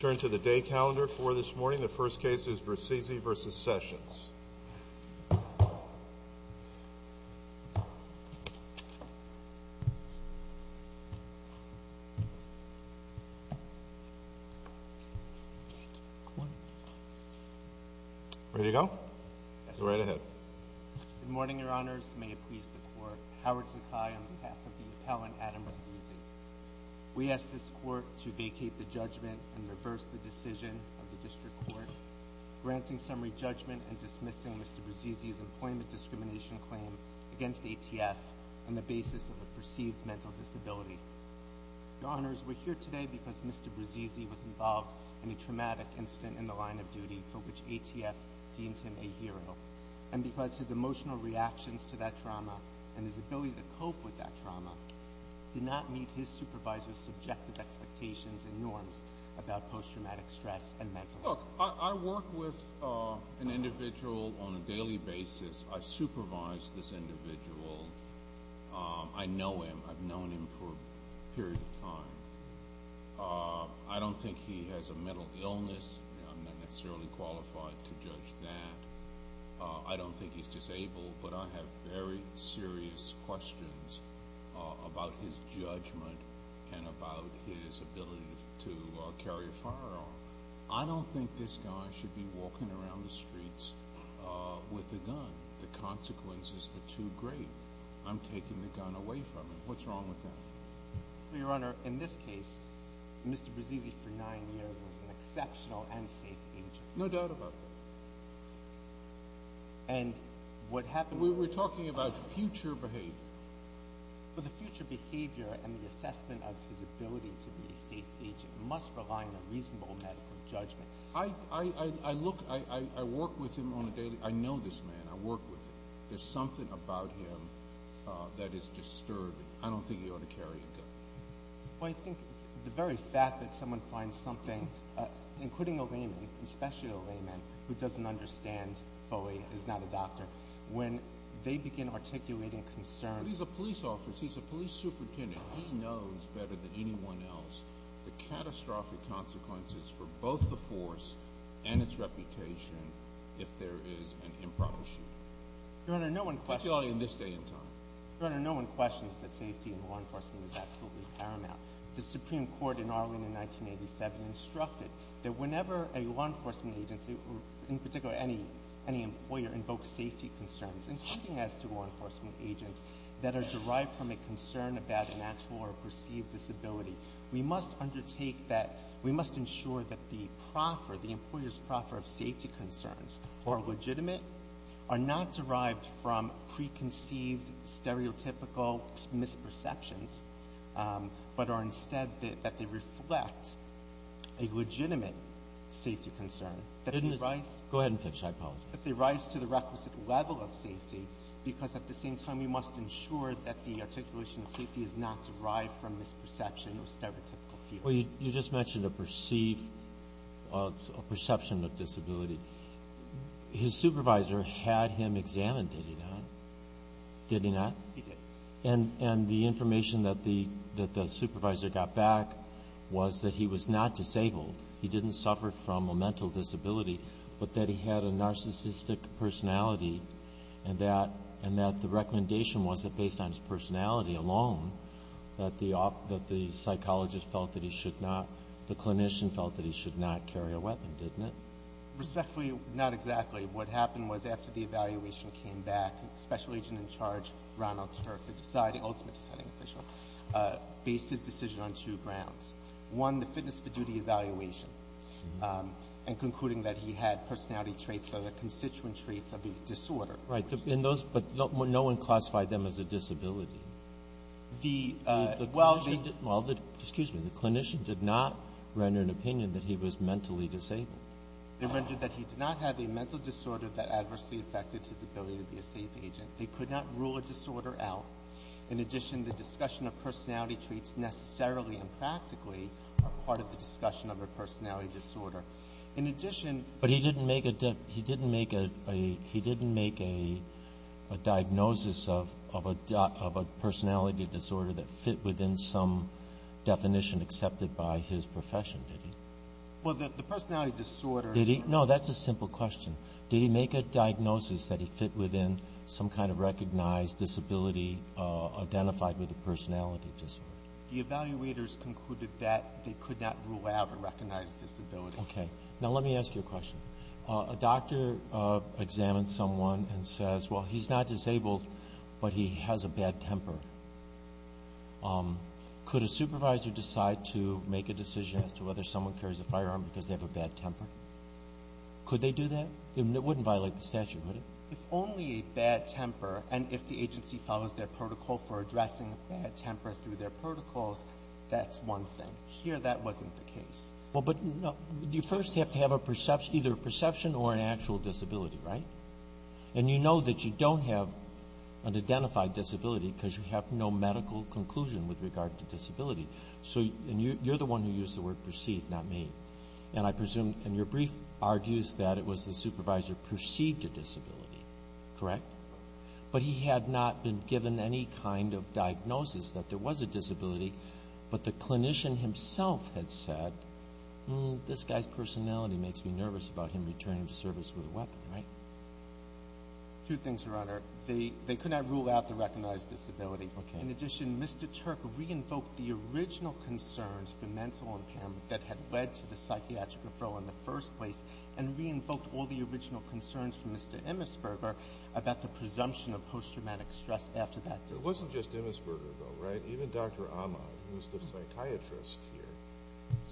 Turn to the day calendar for this morning. The first case is Bruzzese v. Sessions. Ready to go? Go right ahead. Good morning, your honors. May it please the court. Howard Sakai on behalf of the appellant, Adam Bruzzese. We ask this court to vacate the judgment and reverse the decision of the district court, granting summary judgment and dismissing Mr. Bruzzese's employment discrimination claim against ATF on the basis of a perceived mental disability. Your honors, we're here today because Mr. Bruzzese was involved in a traumatic incident in the line of duty for which ATF deemed him a hero. And because his emotional reactions to that trauma and his ability to cope with that trauma did not meet his supervisor's subjective expectations and norms about post-traumatic stress and mental health. Look, I work with an individual on a daily basis. I supervise this individual. I know him. I've known him for a period of time. I don't think he has a mental illness. I'm not necessarily qualified to judge that. I don't think he's disabled, but I have very serious questions about his judgment and about his ability to carry a firearm. I don't think this guy should be walking around the streets with a gun. The consequences are too great. I'm taking the gun away from him. What's wrong with that? Your honor, in this case, Mr. Bruzzese for nine years was an exceptional and safe agent. No doubt about that. And what happened... We're talking about future behavior. But the future behavior and the assessment of his ability to be a safe agent must rely on a reasonable medical judgment. I work with him on a daily... I know this man. I work with him. There's something about him that is disturbing. I don't think he ought to carry a gun. Well, I think the very fact that someone finds something, including a layman, especially a layman who doesn't understand fully, is not a doctor, when they begin articulating concerns... But he's a police officer. He's a police superintendent. He knows better than anyone else the catastrophic consequences for both the force and its reputation if there is an improper shoot. Your honor, no one questions... Particularly in this day and time. Your honor, no one questions that safety in law enforcement is absolutely paramount. The Supreme Court in Arlington in 1987 instructed that whenever a law enforcement agency, in particular any employer, invokes safety concerns, including as to law enforcement agents, that are derived from a concern about an actual or perceived disability, we must undertake that... We must ensure that the employer's proffer of safety concerns are legitimate, are not derived from preconceived, stereotypical misperceptions, but are instead that they reflect a legitimate safety concern. Go ahead and finish. I apologize. That they rise to the requisite level of safety, because at the same time we must ensure that the articulation of safety is not derived from misperception or stereotypical fear. Well, you just mentioned a perception of disability. His supervisor had him examined, did he not? Did he not? He did. And the information that the supervisor got back was that he was not disabled. He didn't suffer from a mental disability, but that he had a narcissistic personality, and that the recommendation was that based on his personality alone, that the psychologist felt that he should not, the clinician felt that he should not carry a weapon, didn't it? Respectfully, not exactly. What happened was after the evaluation came back, the special agent in charge, Ronald Turk, the deciding, ultimate deciding official, based his decision on two grounds. One, the fitness for duty evaluation, and concluding that he had personality traits or the constituent traits of the disorder. Right. In those, but no one classified them as a disability. The, well, they didn't. Well, excuse me. The clinician did not render an opinion that he was mentally disabled. They rendered that he did not have a mental disorder that adversely affected his ability to be a safe agent. They could not rule a disorder out. In addition, the discussion of personality traits necessarily and practically are part of the discussion of a personality disorder. In addition. But he didn't make a diagnosis of a personality disorder that fit within some definition accepted by his profession, did he? Well, the personality disorder. Did he? No, that's a simple question. Did he make a diagnosis that he fit within some kind of recognized disability identified with a personality disorder? The evaluators concluded that they could not rule out a recognized disability. Okay. Now let me ask you a question. A doctor examines someone and says, well, he's not disabled, but he has a bad temper. Could a supervisor decide to make a decision as to whether someone carries a firearm because they have a bad temper? Could they do that? It wouldn't violate the statute, would it? If only a bad temper and if the agency follows their protocol for addressing a bad temper through their protocols, that's one thing. Here that wasn't the case. Well, but you first have to have either a perception or an actual disability, right? And you know that you don't have an identified disability because you have no medical conclusion with regard to disability. So you're the one who used the word perceived, not me. And I presume and your brief argues that it was the supervisor perceived a disability, correct? But he had not been given any kind of diagnosis that there was a disability, but the clinician himself had said, hmm, this guy's personality makes me nervous about him returning to service with a weapon, right? Two things, Your Honor. They could not rule out the recognized disability. Okay. In addition, Mr. Turk re-invoked the original concerns for mental impairment that had led to the psychiatric referral in the first place and re-invoked all the original concerns from Mr. Emesberger about the presumption of post-traumatic stress after that. It wasn't just Emesberger, though, right? Even Dr. Ahmad, who's the psychiatrist here,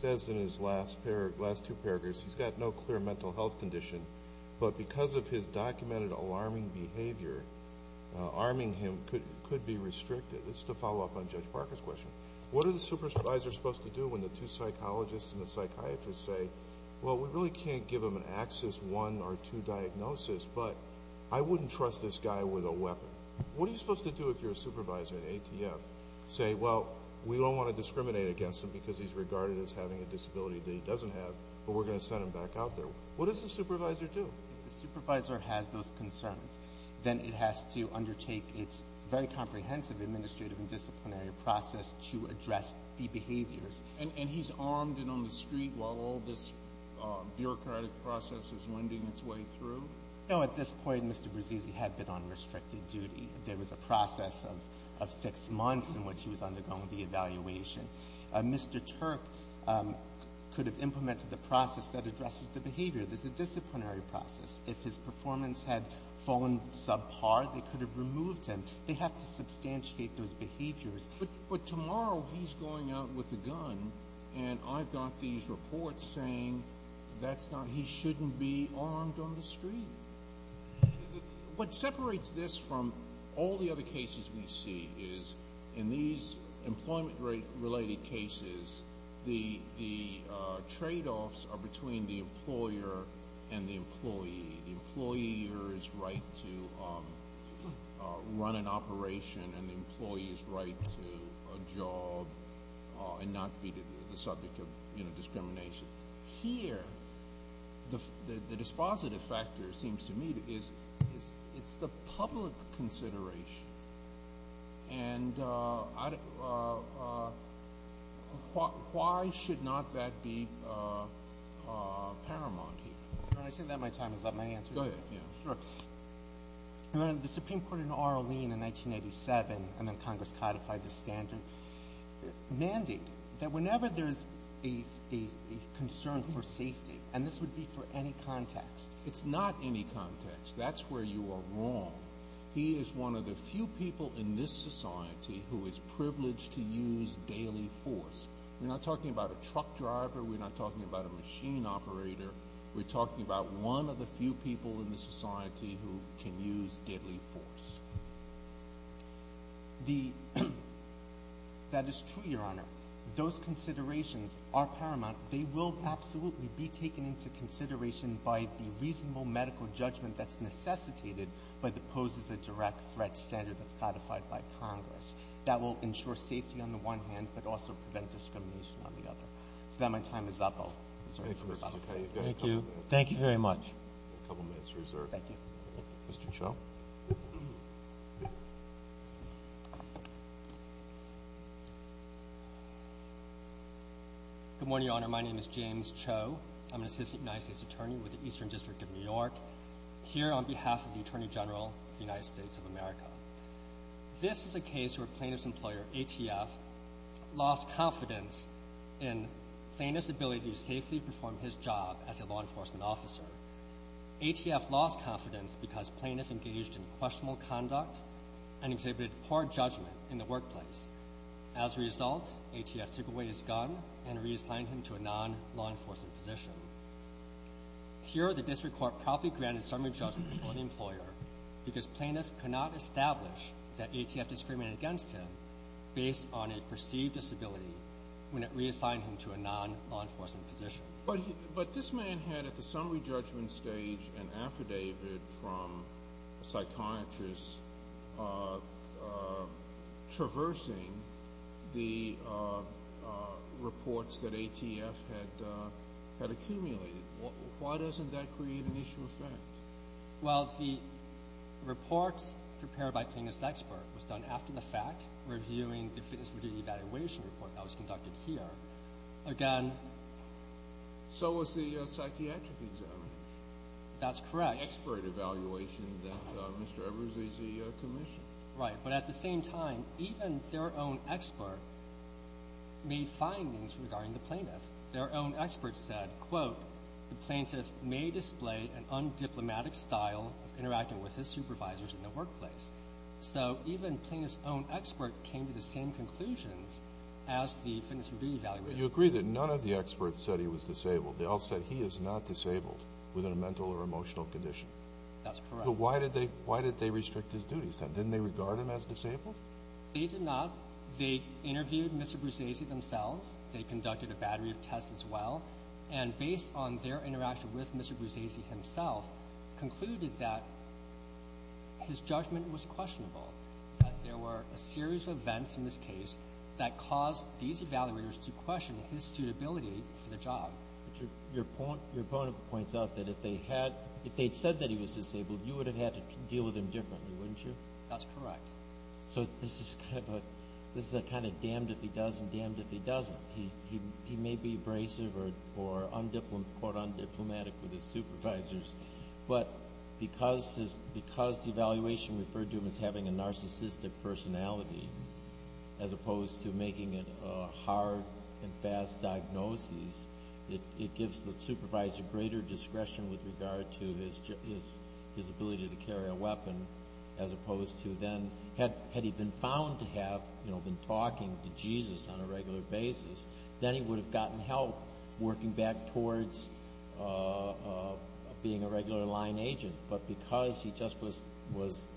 says in his last two paragraphs, he's got no clear mental health condition, but because of his documented alarming behavior, arming him could be restricted. This is to follow up on Judge Parker's question. What are the supervisors supposed to do when the two psychologists and the psychiatrists say, well, we really can't give him an Axis I or II diagnosis, but I wouldn't trust this guy with a weapon? What are you supposed to do if you're a supervisor in ATF, say, well, we don't want to discriminate against him because he's regarded as having a disability that he doesn't have, but we're going to send him back out there? What does the supervisor do? If the supervisor has those concerns, then it has to undertake its very comprehensive administrative and disciplinary process to address the behaviors. And he's armed and on the street while all this bureaucratic process is winding its way through? No, at this point, Mr. Brasisi had been on restricted duty. There was a process of six months in which he was undergoing the evaluation. Mr. Terp could have implemented the process that addresses the behavior. There's a disciplinary process. If his performance had fallen subpar, they could have removed him. They have to substantiate those behaviors. But tomorrow he's going out with a gun, and I've got these reports saying that's not he shouldn't be armed on the street. What separates this from all the other cases we see is in these employment-related cases, the tradeoffs are between the employer and the employee. The employer's right to run an operation and the employee's right to a job and not be the subject of discrimination. Here, the dispositive factor, it seems to me, is it's the public consideration. And why should not that be paramount here? Your Honor, I think that my time is up. May I answer? Go ahead. Sure. Your Honor, the Supreme Court in Orleans in 1987, and then Congress codified the standard, mandated that whenever there's a concern for safety, and this would be for any context. It's not any context. That's where you are wrong. He is one of the few people in this society who is privileged to use daily force. We're not talking about a truck driver. We're not talking about a machine operator. We're talking about one of the few people in this society who can use daily force. That is true, Your Honor. Those considerations are paramount. They will absolutely be taken into consideration by the reasonable medical judgment that's necessitated by the poses a direct threat standard that's codified by Congress. That will ensure safety on the one hand, but also prevent discrimination on the other. So now my time is up. Thank you. Thank you very much. A couple minutes reserved. Thank you. Mr. Cho. Good morning, Your Honor. My name is James Cho. I'm an assistant United States attorney with the Eastern District of New York, here on behalf of the Attorney General of the United States of America. This is a case where plaintiff's employer, ATF, lost confidence in plaintiff's ability to safely perform his job as a law enforcement officer. ATF lost confidence because plaintiff engaged in questionable conduct and exhibited poor judgment in the workplace. As a result, ATF took away his gun and reassigned him to a non-law enforcement position. Here, the district court proudly granted summary judgment before the employer because plaintiff could not establish that ATF discriminated against him based on a perceived disability when it reassigned him to a non-law enforcement position. But this man had, at the summary judgment stage, an affidavit from a psychiatrist traversing the reports that ATF had accumulated. Why doesn't that create an issue of fact? Well, the reports prepared by plaintiff's expert was done after the fact, reviewing the fitness review evaluation report that was conducted here. Again. So was the psychiatric examination. That's correct. The expert evaluation that Mr. Evers is commissioned. Right, but at the same time, even their own expert made findings regarding the plaintiff. Their own expert said, quote, the plaintiff may display an undiplomatic style of interacting with his supervisors in the workplace. So even plaintiff's own expert came to the same conclusions as the fitness review evaluation. But you agree that none of the experts said he was disabled. They all said he is not disabled within a mental or emotional condition. That's correct. But why did they restrict his duties? Didn't they regard him as disabled? They did not. They interviewed Mr. Bruzzese themselves. They conducted a battery of tests as well. And based on their interaction with Mr. Bruzzese himself, concluded that his judgment was questionable, that there were a series of events in this case that caused these evaluators to question his suitability for the job. But your opponent points out that if they had said that he was disabled, you would have had to deal with him differently, wouldn't you? That's correct. So this is kind of a damned if he does and damned if he doesn't. He may be abrasive or, quote, undiplomatic with his supervisors, but because the evaluation referred to him as having a narcissistic personality, as opposed to making it a hard and fast diagnosis, it gives the supervisor greater discretion with regard to his ability to carry a weapon, as opposed to then, had he been found to have been talking to Jesus on a regular basis, then he would have gotten help working back towards being a regular line agent. But because he just was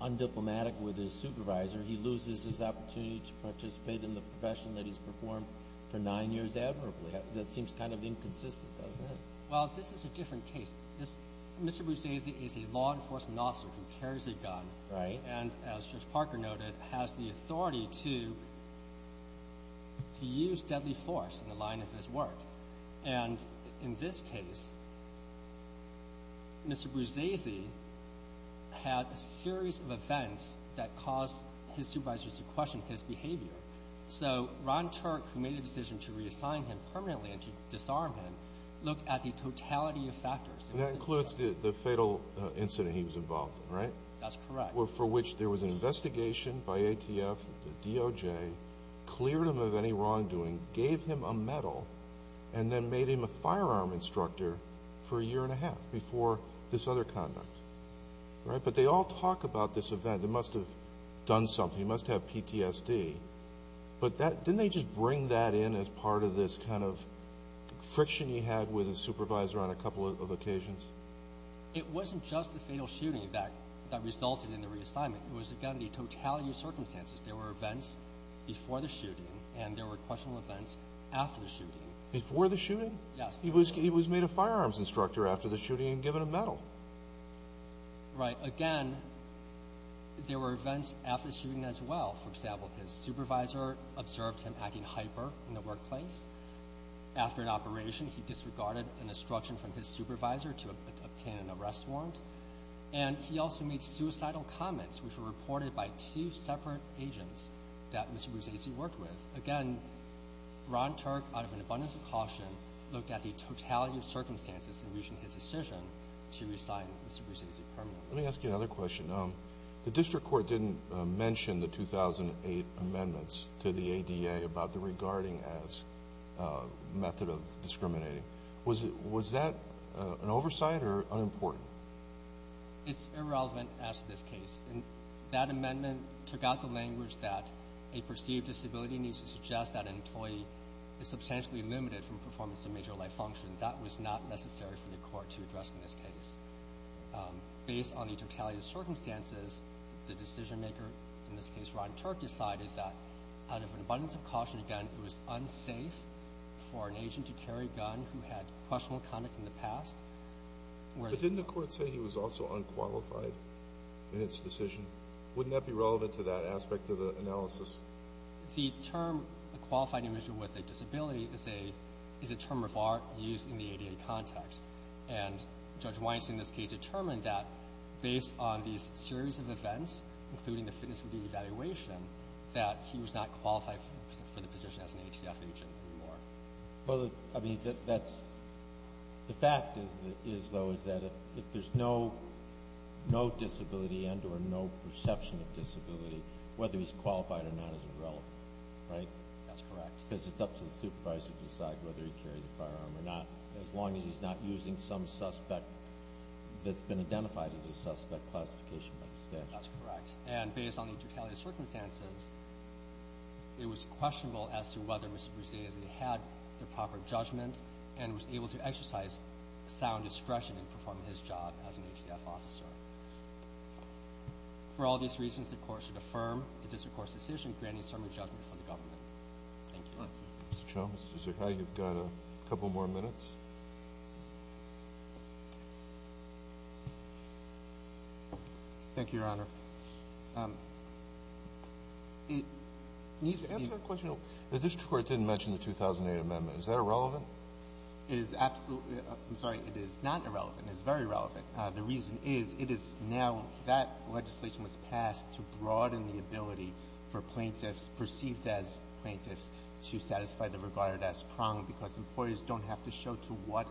undiplomatic with his supervisor, he loses his opportunity to participate in the profession that he's performed for nine years admirably. That seems kind of inconsistent, doesn't it? Well, this is a different case. Mr. Bruzzese is a law enforcement officer who carries a gun. Right. And, as Judge Parker noted, has the authority to use deadly force in the line of his work. And in this case, Mr. Bruzzese had a series of events that caused his supervisors to question his behavior. So Ron Turk, who made a decision to reassign him permanently and to disarm him, looked at the totality of factors. And that includes the fatal incident he was involved in, right? That's correct. For which there was an investigation by ATF, DOJ, cleared him of any wrongdoing, gave him a medal, and then made him a firearm instructor for a year and a half before this other conduct. But they all talk about this event. He must have done something. He must have PTSD. But didn't they just bring that in as part of this kind of friction he had with his supervisor on a couple of occasions? It wasn't just the fatal shooting that resulted in the reassignment. It was, again, the totality of circumstances. There were events before the shooting, and there were questionable events after the shooting. Before the shooting? Yes. He was made a firearms instructor after the shooting and given a medal. Right. Again, there were events after the shooting as well. For example, his supervisor observed him acting hyper in the workplace. After an operation, he disregarded an instruction from his supervisor to obtain an arrest warrant. And he also made suicidal comments, which were reported by two separate agents that Mr. Brzezinski worked with. Again, Ron Turk, out of an abundance of caution, looked at the totality of circumstances in reaching his decision to resign Mr. Brzezinski permanently. Let me ask you another question. The district court didn't mention the 2008 amendments to the ADA about the regarding as method of discriminating. Was that an oversight or unimportant? It's irrelevant as to this case. That amendment took out the language that a perceived disability needs to suggest that an employee is substantially limited from performance of major life functions. That was not necessary for the court to address in this case. Based on the totality of circumstances, the decision-maker, in this case Ron Turk, decided that out of an abundance of caution, again, it was unsafe for an agent to carry a gun who had questionable conduct in the past. But didn't the court say he was also unqualified in its decision? Wouldn't that be relevant to that aspect of the analysis? The term, a qualified individual with a disability, is a term of art used in the ADA context. And Judge Weinstein, in this case, determined that based on these series of events, including the fitness review evaluation, that he was not qualified for the position as an ATF agent anymore. The fact is, though, is that if there's no disability and or no perception of disability, whether he's qualified or not isn't relevant, right? That's correct. Because it's up to the supervisor to decide whether he carries a firearm or not, as long as he's not using some suspect that's been identified as a suspect classification by the statute. That's correct. And based on the totality of circumstances, it was questionable as to whether Mr. Brzezinski had the proper judgment and was able to exercise sound discretion in performing his job as an ATF officer. For all these reasons, the court should affirm the district court's decision, granting certain judgment from the government. Thank you. Mr. Cho, Mr. Sakai, you've got a couple more minutes. Thank you, Your Honor. The district court didn't mention the 2008 amendment. Is that irrelevant? It is absolutely ‑‑ I'm sorry, it is not irrelevant. It is very relevant. The reason is, it is now that legislation was passed to broaden the ability for plaintiffs, perceived as plaintiffs, to satisfy the regarded as prong, because employers don't have to show to what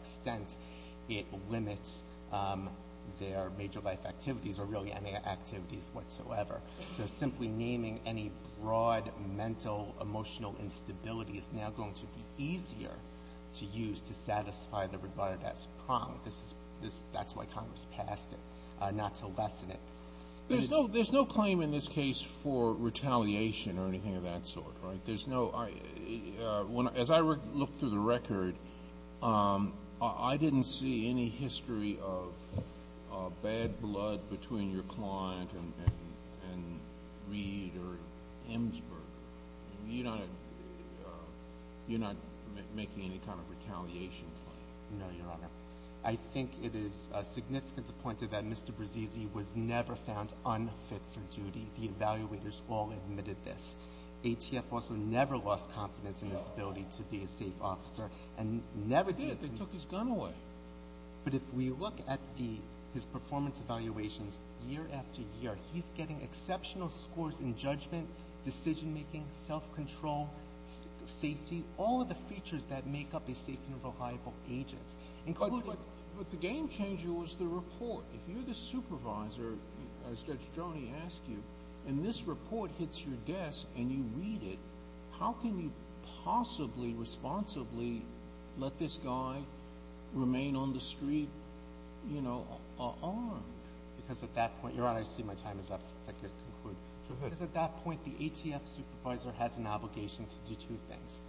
extent it limits their major life activities or really any activities whatsoever. So simply naming any broad mental, emotional instability is now going to be easier to use to satisfy the regarded as prong. That's why Congress passed it, not to lessen it. There's no claim in this case for retaliation or anything of that sort, right? There's no ‑‑ as I looked through the record, I didn't see any history of bad blood between your client and Reed or Emsburg. You're not making any kind of retaliation claim? No, Your Honor. I think it is significant to point to that Mr. Brasisi was never found unfit for duty. The evaluators all admitted this. ATF also never lost confidence in his ability to be a safe officer and never did. They did. They took his gun away. But if we look at his performance evaluations year after year, he's getting exceptional scores in judgment, decision‑making, self‑control, safety, all of the features that make up a safe and reliable agent. But the game changer was the report. If you're the supervisor, as Judge Droney asked you, and this report hits your desk and you read it, how can you possibly responsibly let this guy remain on the street, you know, armed? Because at that point ‑‑ Your Honor, I see my time is up. I can conclude. Because at that point, the ATF supervisor has an obligation to do two things.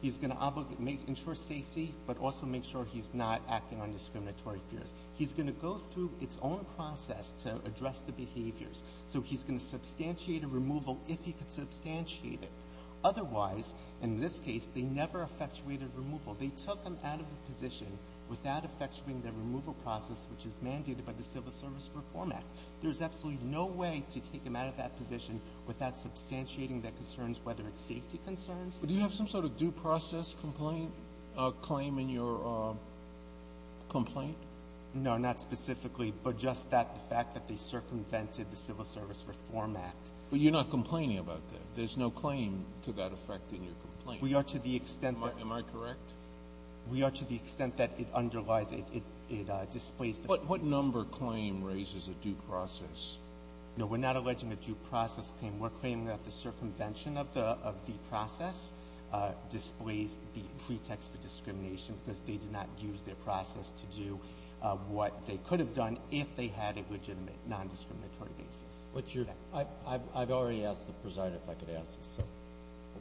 He's going to ensure safety but also make sure he's not acting on discriminatory fears. He's going to go through its own process to address the behaviors. So he's going to substantiate a removal if he could substantiate it. Otherwise, in this case, they never effectuated removal. They took him out of the position without effectuating the removal process, which is mandated by the Civil Service Reform Act. There's absolutely no way to take him out of that position without substantiating the concerns, whether it's safety concerns. But do you have some sort of due process complaint ‑‑ claim in your complaint? No, not specifically, but just that fact that they circumvented the Civil Service Reform Act. But you're not complaining about that. There's no claim to that effect in your complaint. We are to the extent that ‑‑ Am I correct? We are to the extent that it underlies, it displays ‑‑ What number claim raises a due process? No, we're not alleging a due process claim. We're claiming that the circumvention of the process displays the pretext for discrimination because they did not use their process to do what they could have done if they had a legitimate nondiscriminatory basis. I've already asked the presider if I could ask this.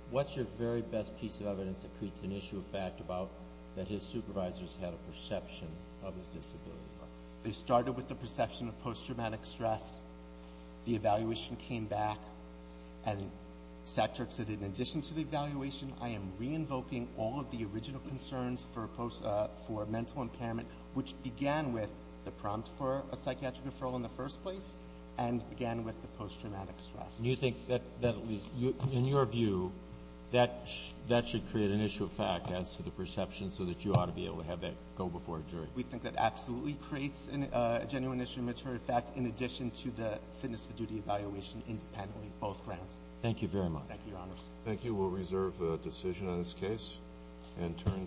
What's your very best piece of evidence that creates an issue of fact about that his supervisors had a perception of his disability? They started with the perception of posttraumatic stress. The evaluation came back, and Sattrick said in addition to the evaluation, I am re-invoking all of the original concerns for post ‑‑ for mental impairment, which began with the prompt for a psychiatric referral in the first place and began with the posttraumatic stress. Do you think that, at least in your view, that should create an issue of fact as to the perception so that you ought to be able to have that go before a jury? We think that absolutely creates a genuine issue of matter of fact in addition to the fitness for duty evaluation independently of both grounds. Thank you very much. Thank you, Your Honors. Thank you. We'll reserve a decision on this case and turn to ‑‑